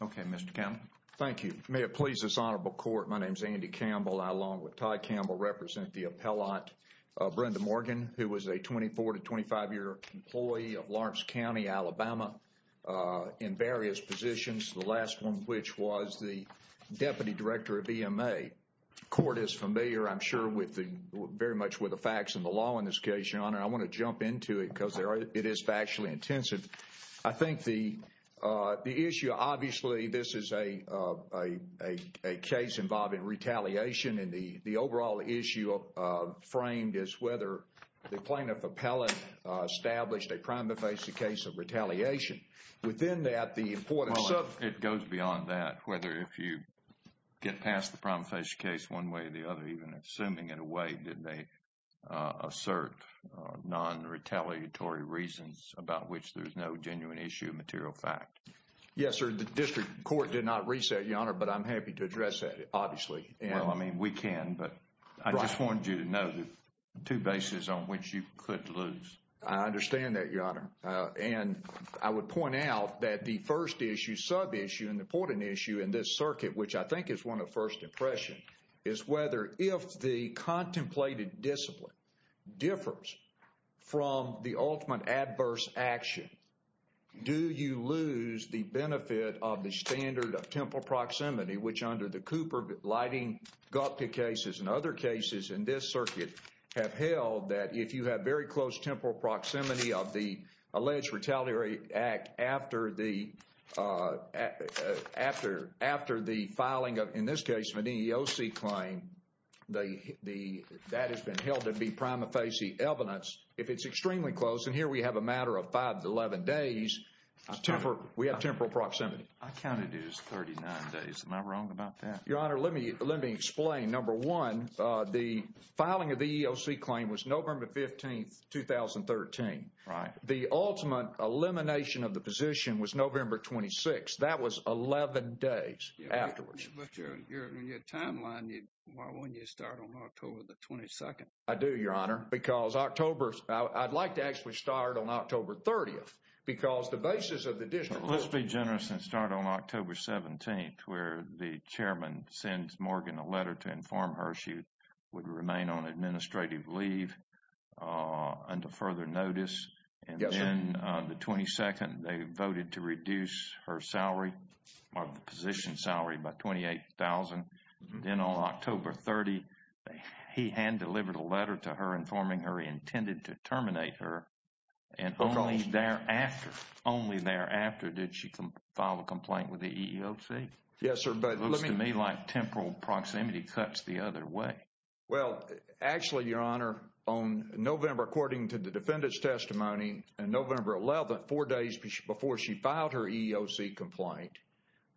Okay, Mr. Campbell, thank you. May it please this honorable court. My name is Andy Campbell. I along with Todd Campbell represent the appellant Brenda Morgan who was a 24 to 25 year employee of Lawrence County, Alabama In various positions the last one, which was the deputy director of EMA Court is familiar. I'm sure with the very much with the facts in the law in this case, your honor I want to jump into it because there are it is factually intensive. I think the The issue obviously this is a a a case involving retaliation and the the overall issue Framed is whether the plaintiff appellant established a prima facie case of retaliation Within that the importance of it goes beyond that whether if you Get past the prima facie case one way or the other even assuming in a way did they? assert Non-retaliatory reasons about which there's no genuine issue material fact Yes, sir. The district court did not reset your honor, but I'm happy to address that obviously Yeah, I mean we can but I just wanted you to know the two bases on which you could lose I understand that your honor and I would point out that the first issue sub issue in the porting issue in this circuit Which I think is one of first impression is whether if the contemplated discipline differs from the ultimate adverse action Do you lose the benefit of the standard of temple proximity which under the Cooper lighting? Gupta cases and other cases in this circuit have held that if you have very close temporal proximity of the alleged retaliatory act after the After after the filing of in this case of an EEOC claim They the that has been held to be prima facie evidence if it's extremely close and here we have a matter of 5 to 11 days Temper we have temporal proximity. I counted is 39 days. Am I wrong about that your honor? Let me let me explain number one the filing of the EEOC claim was November 15th 2013 right the ultimate elimination of the position was November 26. That was 11 days When you start on October the 22nd, I do your honor because October's I'd like to actually start on October 30th because the basis of the district let's be generous and start on October 17th where the Chairman sends Morgan a letter to inform her she would remain on administrative leave under further notice and The 22nd they voted to reduce her salary of the position salary by 228,000 in all October 30 He hand-delivered a letter to her informing her intended to terminate her and only thereafter Only thereafter did she can file a complaint with the EEOC? Yes, sir But let me like temporal proximity cuts the other way Well, actually your honor on November according to the defendant's testimony and November 11th four days before she filed her EEOC complaint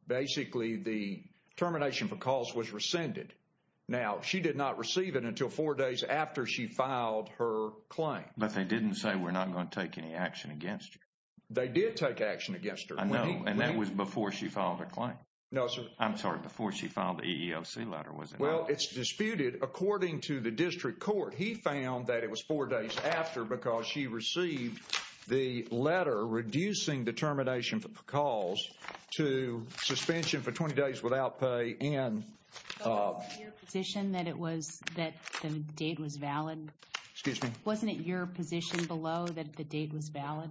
Basically the Termination for cause was rescinded now. She did not receive it until four days after she filed her claim But they didn't say we're not going to take any action against you. They did take action against her I know and that was before she filed a claim. No, sir. I'm sorry before she filed the EEOC letter wasn't well It's disputed according to the district court He found that it was four days after because she received the letter reducing the termination for the cause to suspension for 20 days without pay and Position that it was that the date was valid. Excuse me. Wasn't it your position below that the date was valid?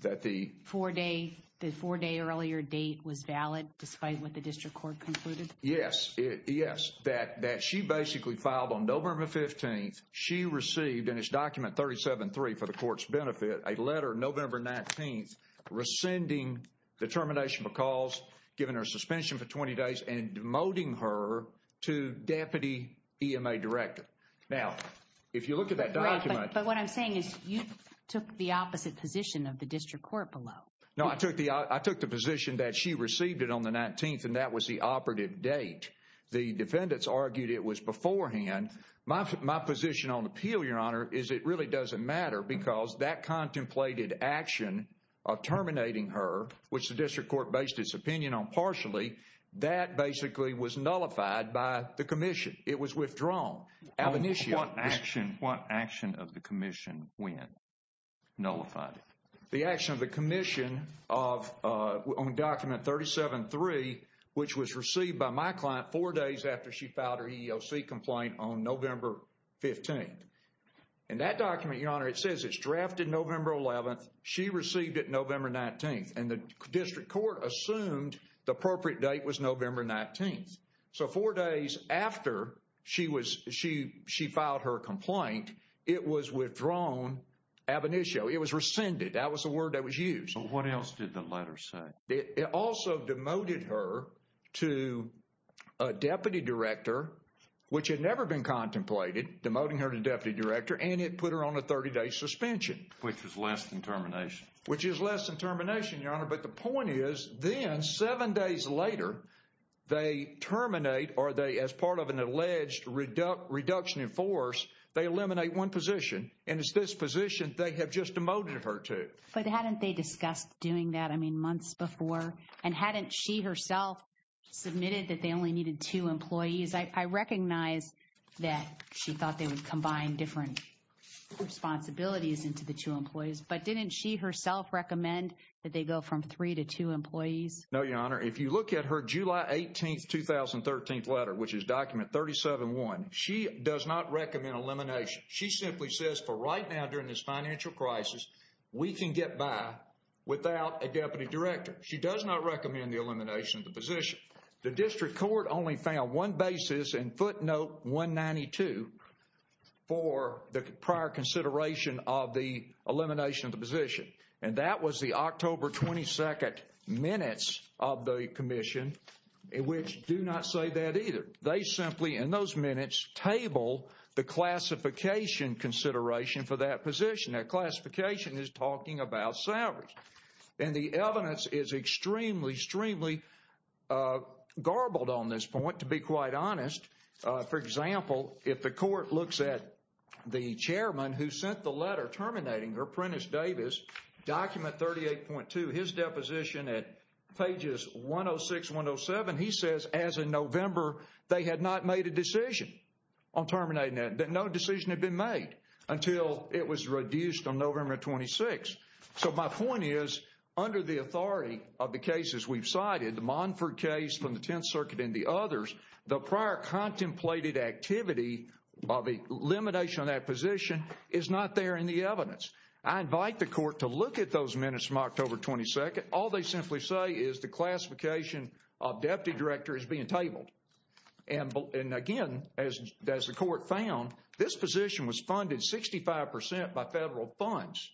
That the four day the four day earlier date was valid despite what the district court concluded Yes, yes that that she basically filed on November 15th She received in his document 37 3 for the court's benefit a letter November 19th Rescinding the termination because given her suspension for 20 days and demoting her to Deputy EMA director now if you look at that document But what I'm saying is you took the opposite position of the district court below No I took the I took the position that she received it on the 19th and that was the operative date The defendants argued it was beforehand my position on appeal your honor is it really doesn't matter because that contemplated action of Terminating her which the district court based its opinion on partially that basically was nullified by the Commission It was withdrawn Amnesia action what action of the Commission when? nullified the action of the Commission of Only document 37 3 which was received by my client four days after she filed her EEOC complaint on November 15th and that document your honor. It says it's drafted November 11th Received it November 19th and the district court assumed the appropriate date was November 19th So four days after she was she she filed her complaint. It was withdrawn Ab initio it was rescinded. That was the word that was used. What else did the letter say it also demoted her to a deputy director Which had never been contemplated demoting her to deputy director and it put her on a 30-day suspension Which is less than termination, which is less than termination your honor, but the point is then seven days later They terminate are they as part of an alleged? Reduct reduction in force they eliminate one position and it's this position They have just demoted her to but hadn't they discussed doing that. I mean months before and hadn't she herself Submitted that they only needed two employees. I recognize that she thought they would combine different Responsibilities into the two employees, but didn't she herself recommend that they go from three to two employees? No, your honor. If you look at her July 18th 2013th letter which is document 37 one. She does not recommend elimination She simply says for right now during this financial crisis. We can get by without a deputy director She does not recommend the elimination of the position. The district court only found one basis in footnote 192 For the prior consideration of the elimination of the position and that was the October 22nd minutes of the Commission Which do not say that either they simply in those minutes table the classification Consideration for that position that classification is talking about salaries and the evidence is extremely extremely Garbled on this point to be quite honest For example, if the court looks at the chairman who sent the letter terminating her apprentice Davis document 38.2 his deposition at pages 106 107 he says as in November they had not made a decision on Terminating that that no decision had been made until it was reduced on November 26 So my point is under the authority of the cases We've cited the Monford case from the Tenth Circuit and the others the prior Contemplated activity of a limitation on that position is not there in the evidence I invite the court to look at those minutes from October 22nd all they simply say is the classification of deputy director is being tabled and and again as the court found this position was funded 65% by federal funds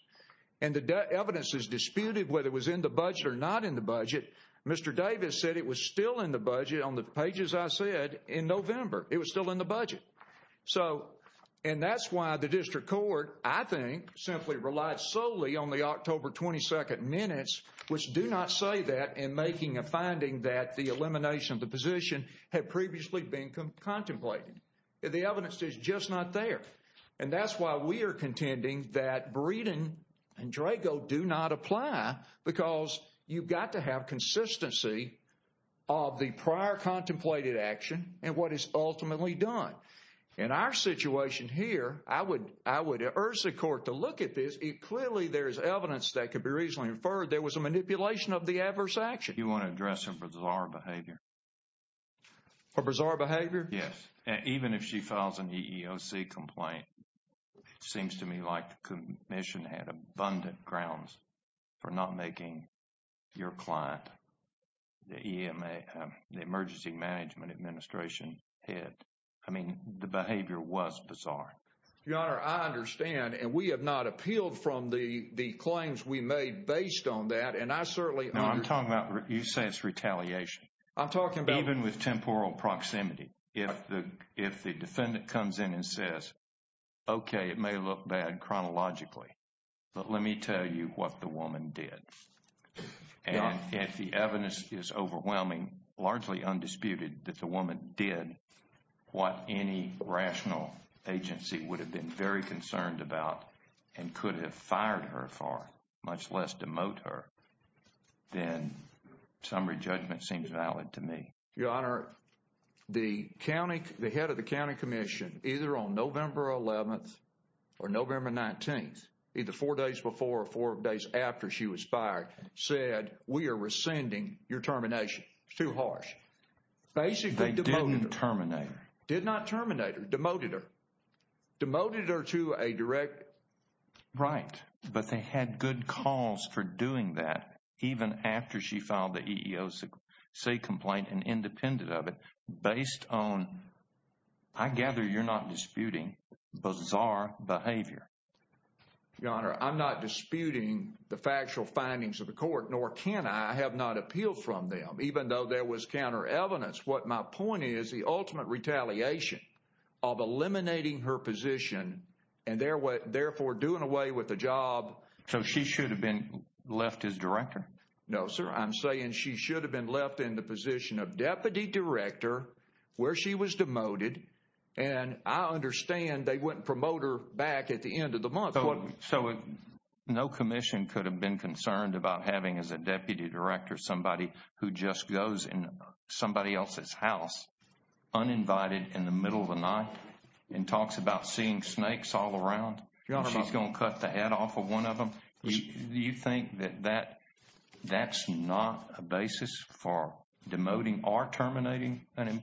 and Evidence is disputed whether it was in the budget or not in the budget. Mr Davis said it was still in the budget on the pages. I said in November it was still in the budget So and that's why the district court I think simply relied solely on the October 22nd minutes Which do not say that in making a finding that the elimination of the position had previously been Contemplated the evidence is just not there and that's why we are contending that Breeden and Drago do not apply because you've got to have consistency of The prior contemplated action and what is ultimately done in our situation here I would I would urge the court to look at this it clearly there is evidence that could be reasonably inferred There was a manipulation of the adverse action. You want to address him for bizarre behavior For bizarre behavior. Yes, even if she files an EEOC complaint It seems to me like the commission had abundant grounds for not making your client the EMA the emergency management administration Hit I mean the behavior was bizarre. Your honor I understand and we have not appealed from the the claims we made based on that and I certainly I'm talking about You say it's retaliation I'm talking about even with temporal proximity if the if the defendant comes in and says Okay, it may look bad chronologically, but let me tell you what the woman did And if the evidence is overwhelming Largely undisputed that the woman did What any rational agency would have been very concerned about and could have fired her for much less? demote her then Summary judgment seems valid to me your honor The county the head of the County Commission either on November 11th or November 19th either four days before or four days after she was fired said we are rescinding your termination It's too harsh Basically didn't terminate did not terminate her demoted her Demoted her to a direct Right, but they had good cause for doing that Even after she filed the EEOC complaint and independent of it based on I Gather you're not disputing bizarre behavior Your honor. I'm not disputing the factual findings of the court nor can I have not appealed from them? even though there was counter evidence what my point is the ultimate retaliation of Eliminating her position and there were therefore doing away with the job. So she should have been left as director No, sir. I'm saying she should have been left in the position of deputy director Where she was demoted and I understand they wouldn't promote her back at the end of the month So it no Commission could have been concerned about having as a deputy director somebody who just goes in somebody else's house Uninvited in the middle of the night and talks about seeing snakes all around You know, she's gonna cut the head off of one of them. Do you think that that? That's not a basis for demoting or terminating and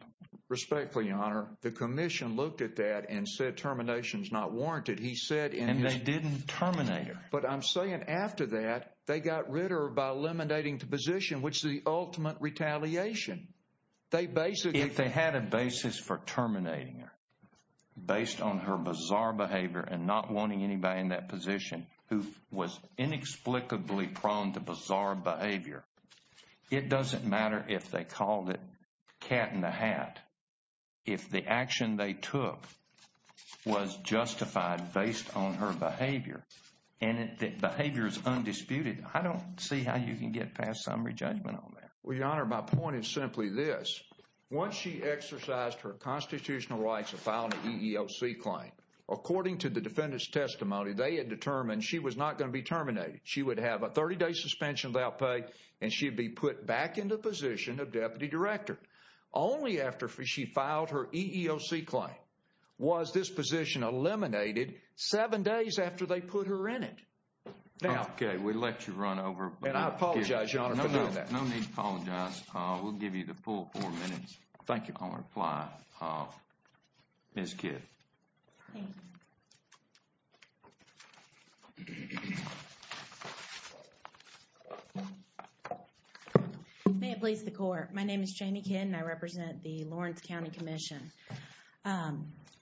Respectfully honor the Commission looked at that and said terminations not warranted He said and they didn't terminate her but I'm saying after that they got rid of her by eliminating the position Which the ultimate retaliation? They basically they had a basis for terminating her based on her bizarre behavior and not wanting anybody in that position who was Inexplicably prone to bizarre behavior It doesn't matter if they called it cat in the hat if the action they took Was justified based on her behavior and it that behavior is undisputed I don't see how you can get past summary judgment on there. We honor my point is simply this Once she exercised her constitutional rights of found an EEOC claim According to the defendants testimony, they had determined she was not going to be terminated She would have a 30-day suspension without pay and she'd be put back into position of deputy director Only after she filed her EEOC claim was this position eliminated seven days after they put her in it Okay, we let you run over and I apologize Thank you Apply miss kid May it please the court. My name is Jamie kid and I represent the Lawrence County Commission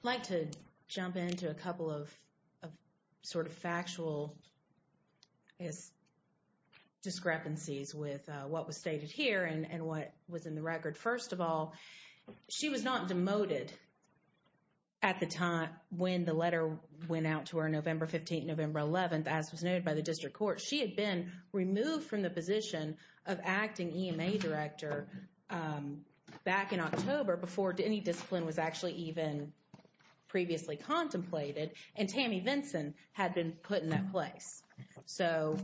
like to jump into a couple of sort of factual is Discrepancies with what was stated here and and what was in the record first of all She was not demoted At the time when the letter went out to her November 15th, November 11th, as was noted by the district court She had been removed from the position of acting EMA director back in October before any discipline was actually even Previously contemplated and Tammy Vinson had been put in that place. So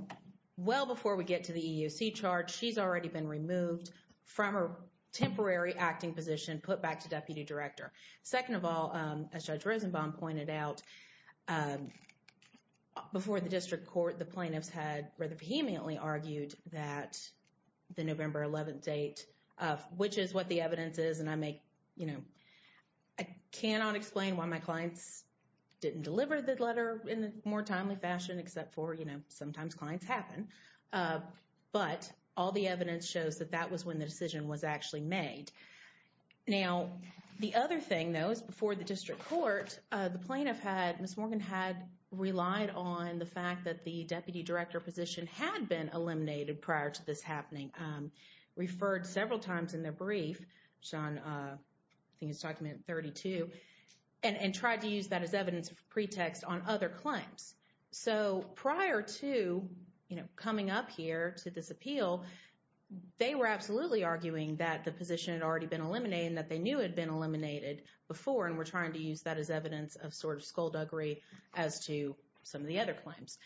Well before we get to the EEOC charge, she's already been removed from her temporary acting position put back to deputy director Second of all as judge Rosenbaum pointed out Before the district court the plaintiffs had rather vehemently argued that the November 11th date of which is what the evidence is and I make you know, I Cannot explain why my clients Didn't deliver the letter in the more timely fashion except for you know, sometimes clients happen But all the evidence shows that that was when the decision was actually made Now the other thing though is before the district court the plaintiff had miss Morgan had Relied on the fact that the deputy director position had been eliminated prior to this happening referred several times in their brief John Things document 32 and and tried to use that as evidence of pretext on other claims so prior to You know coming up here to this appeal They were absolutely arguing that the position had already been eliminated that they knew had been eliminated Before and we're trying to use that as evidence of sort of skullduggery as to some of the other claims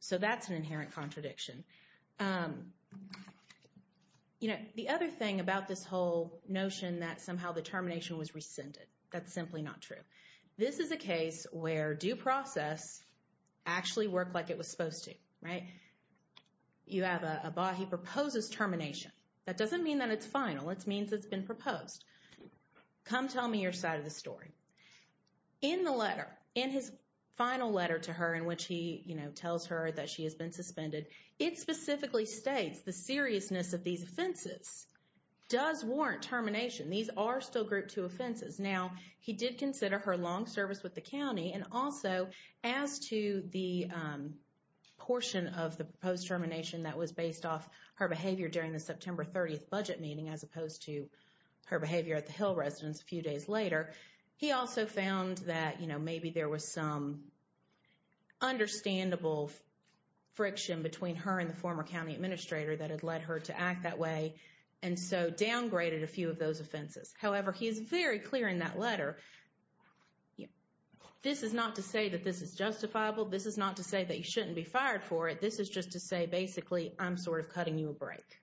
So that's an inherent contradiction You Know the other thing about this whole notion that somehow the termination was rescinded. That's simply not true This is a case where due process Actually worked like it was supposed to right You have a body proposes termination. That doesn't mean that it's final. It means it's been proposed Come tell me your side of the story In the letter in his final letter to her in which he you know tells her that she has been suspended It specifically states the seriousness of these offenses Does warrant termination? These are still group two offenses now he did consider her long service with the county and also as to the portion of the proposed termination that was based off her behavior during the September 30th budget meeting as opposed to Her behavior at the Hill residence a few days later. He also found that you know, maybe there was some Understandable Friction between her and the former County Administrator that had led her to act that way and so downgraded a few of those offenses However, he is very clear in that letter Yeah, this is not to say that this is justifiable. This is not to say that you shouldn't be fired for it This is just to say basically I'm sort of cutting you a break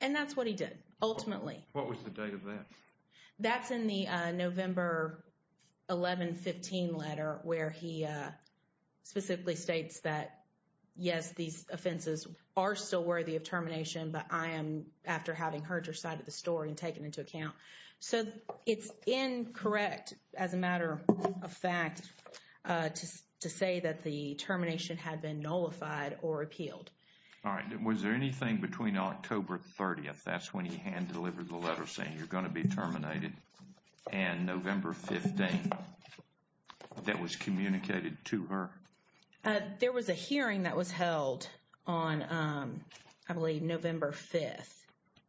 And that's what he did. Ultimately. What was the date of that? That's in the November 1115 letter where he Specifically states that Yes, these offenses are still worthy of termination But I am after having heard your side of the story and taken into account. So it's incorrect as a matter of fact To say that the termination had been nullified or appealed All right. Was there anything between October 30th? That's when he hand-delivered the letter saying you're going to be terminated and November 15th That was communicated to her There was a hearing that was held on I believe November 5th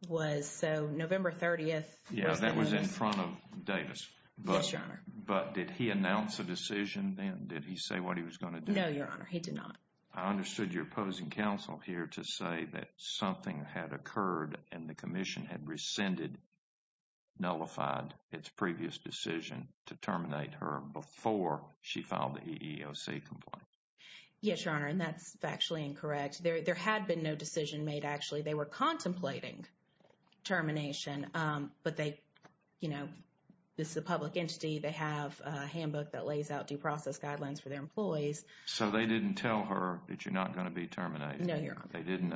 was so November 30th Yeah, that was in front of Davis, but sure but did he announce a decision then did he say what he was going to do? No, your honor. He did not I understood your opposing counsel here to say that something had occurred and the Commission had rescinded Nullified its previous decision to terminate her before she filed the EEOC complaint Yes, your honor, and that's actually incorrect. There there had been no decision made actually they were contemplating Termination, but they you know, this is a public entity They have a handbook that lays out due process guidelines for their employees So they didn't tell her that you're not going to be terminated. No, they didn't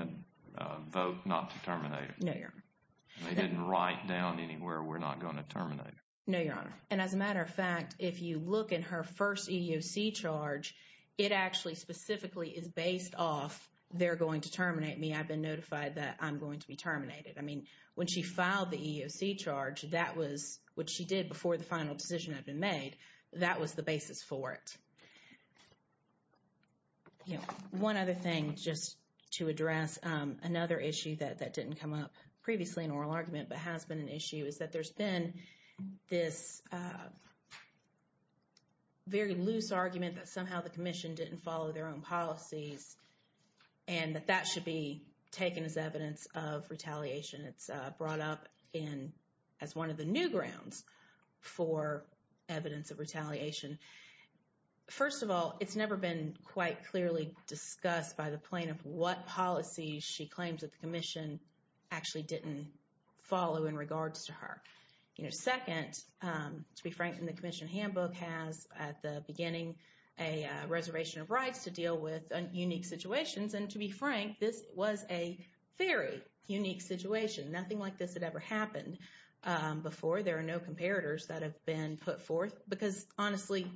Vote not to terminate it. No, your honor. They didn't write down anywhere. We're not going to terminate No, your honor. And as a matter of fact, if you look in her first EEOC charge It actually specifically is based off. They're going to terminate me. I've been notified that I'm going to be terminated I mean when she filed the EEOC charge that was what she did before the final decision had been made That was the basis for it You know one other thing just to address Another issue that that didn't come up previously in oral argument, but has been an issue is that there's been this Very loose argument that somehow the Commission didn't follow their own policies and That that should be taken as evidence of retaliation. It's brought up in as one of the new grounds for evidence of retaliation First of all, it's never been quite clearly discussed by the plaintiff what policy she claims that the Commission Actually didn't follow in regards to her, you know second to be frank in the Commission handbook has at the beginning a Reservation of rights to deal with unique situations and to be frank. This was a very unique situation Nothing like this had ever happened Before there are no comparators that have been put forth because honestly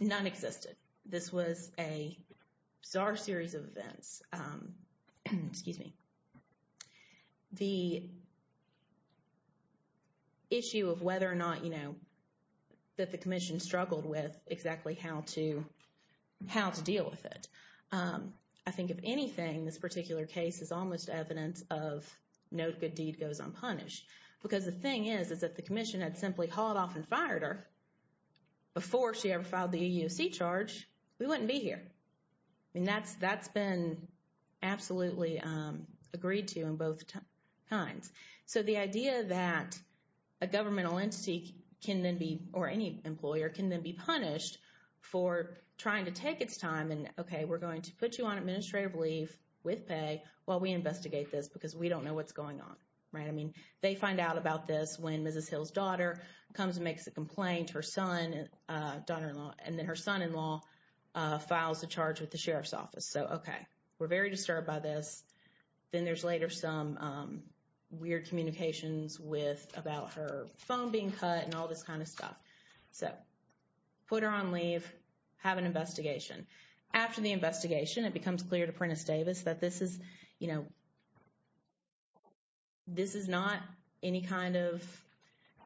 None existed. This was a bizarre series of events Excuse me the Issue of whether or not you know that the Commission struggled with exactly how to How to deal with it. I think if anything this particular case is almost evidence of No good deed goes unpunished because the thing is is that the Commission had simply hauled off and fired her Before she ever filed the EUC charge. We wouldn't be here. I mean that's that's been absolutely agreed to in both times so the idea that a Governmental entity can then be or any employer can then be punished for trying to take its time and okay Well, we investigate this because we don't know what's going on, right? I mean they find out about this when mrs. Hill's daughter comes and makes a complaint her son Daughter-in-law and then her son-in-law Files a charge with the sheriff's office. So, okay. We're very disturbed by this Then there's later some Weird communications with about her phone being cut and all this kind of stuff. So Put her on leave have an investigation After the investigation it becomes clear to Prentice Davis that this is you know This is not any kind of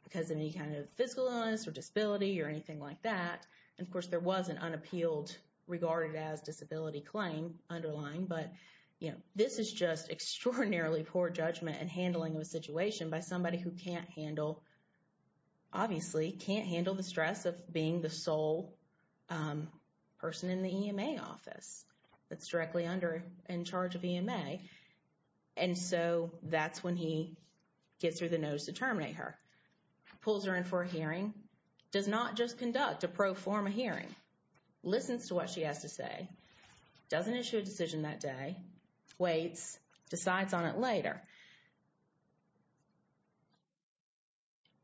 Because of any kind of physical illness or disability or anything like that And of course there was an unappealed regarded as disability claim underlying But you know, this is just extraordinarily poor judgment and handling of a situation by somebody who can't handle Obviously can't handle the stress of being the sole Person in the EMA office that's directly under in charge of EMA and So that's when he gets through the notice to terminate her Pulls her in for a hearing does not just conduct a pro forma hearing Listens to what she has to say Doesn't issue a decision that day waits decides on it later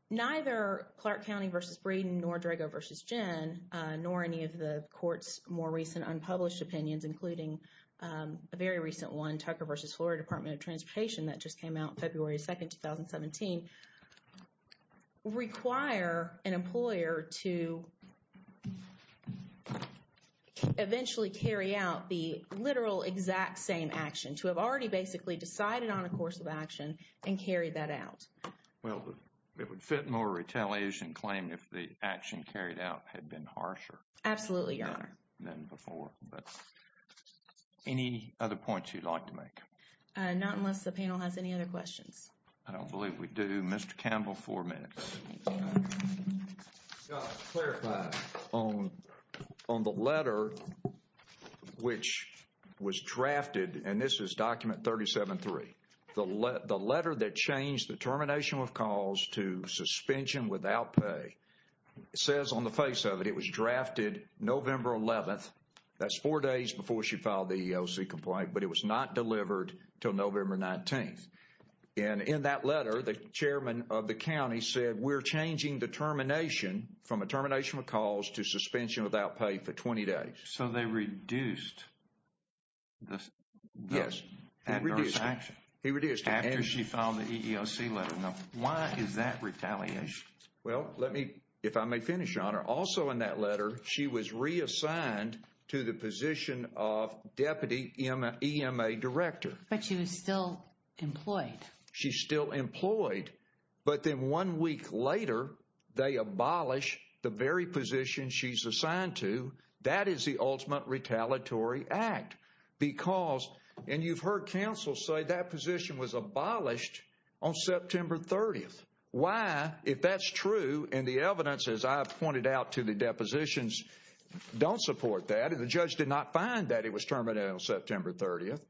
You Neither Clark County versus Braden nor Drago versus Jen nor any of the court's more recent unpublished opinions including a very recent one Tucker versus Florida Department of Transportation that just came out February 2nd 2017 Require an employer to Eventually carry out the literal exact same action to have already basically decided on a course of action and carry that out Well, it would fit more retaliation claim if the action carried out had been harsher. Absolutely your honor then before but Any other points you'd like to make not unless the panel has any other questions. I don't believe we do. Mr. Campbell four minutes On the letter which was drafted and this is document 37 3 the letter that changed the termination of calls to suspension without pay Says on the face of it. It was drafted November 11th, that's four days before she filed the EOC complaint, but it was not delivered till November 19th and in that letter the chairman of the county said we're changing the Termination from a termination of calls to suspension without pay for 20 days. So they reduced Yes He reduced after she found the EEOC letter. No, why is that retaliation? Well, let me if I may finish on her also in that letter. She was reassigned to the position of Deputy Emma EMA director, but she was still employed. She's still employed But then one week later They abolish the very position she's assigned to that is the ultimate retaliatory act Because and you've heard counsel say that position was abolished on September 30th why if that's true and the evidence as I've pointed out to the depositions Don't support that and the judge did not find that it was terminated on September 30th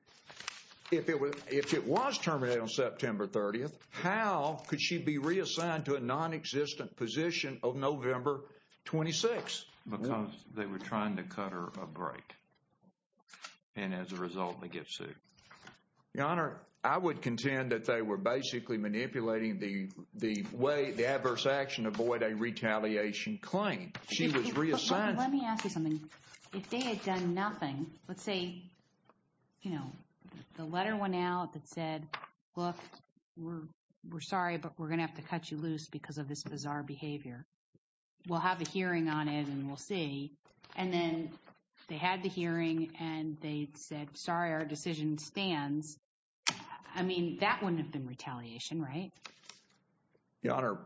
If it was if it was terminated on September 30th, how could she be reassigned to a non-existent position of November? 26 because they were trying to cut her a break And as a result they get sued The honor I would contend that they were basically manipulating the the way the adverse action avoid a retaliation Claim she was reassigned If they had done nothing, let's say You know the letter went out that said look We're sorry, but we're gonna have to cut you loose because of this bizarre behavior We'll have a hearing on it and we'll see and then they had the hearing and they said sorry our decision stands. I Mean that wouldn't have been retaliation, right? the honor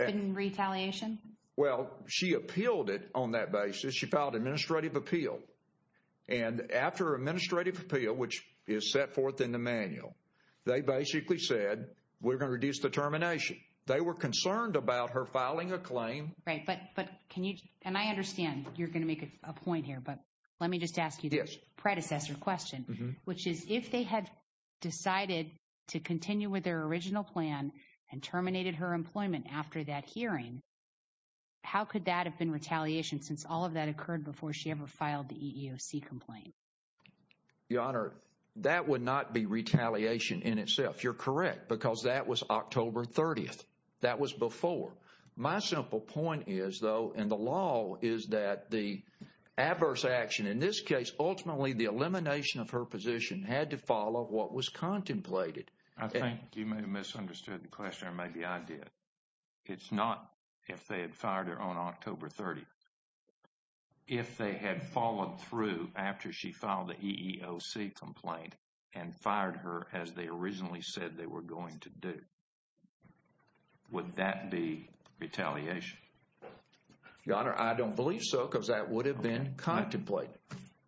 Retaliation, well, she appealed it on that basis. She filed administrative appeal and After administrative appeal, which is set forth in the manual. They basically said we're gonna reduce the termination They were concerned about her filing a claim, right? But but can you and I understand you're gonna make it a point here, but let me just ask you this predecessor question which is if they had Decided to continue with their original plan and terminated her employment after that hearing How could that have been retaliation since all of that occurred before she ever filed the EEOC complaint The honor that would not be retaliation in itself. You're correct because that was October 30th that was before my simple point is though and the law is that the Adverse action in this case. Ultimately the elimination of her position had to follow what was contemplated I think you may have misunderstood the question. Maybe I did it's not if they had fired her on October 30th if they had followed through after she filed the EEOC complaint and Fired her as they originally said they were going to do Would that be? retaliation The honor I don't believe so because that would have been contemplate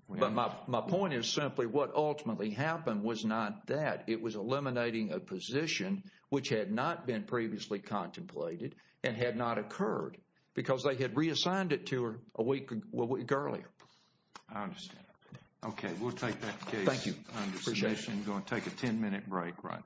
But my point is simply what ultimately happened was not that it was eliminating a position which had not been previously Contemplated and had not occurred because they had reassigned it to her a week a week earlier Okay, we'll take that thank you Take a 10-minute break right now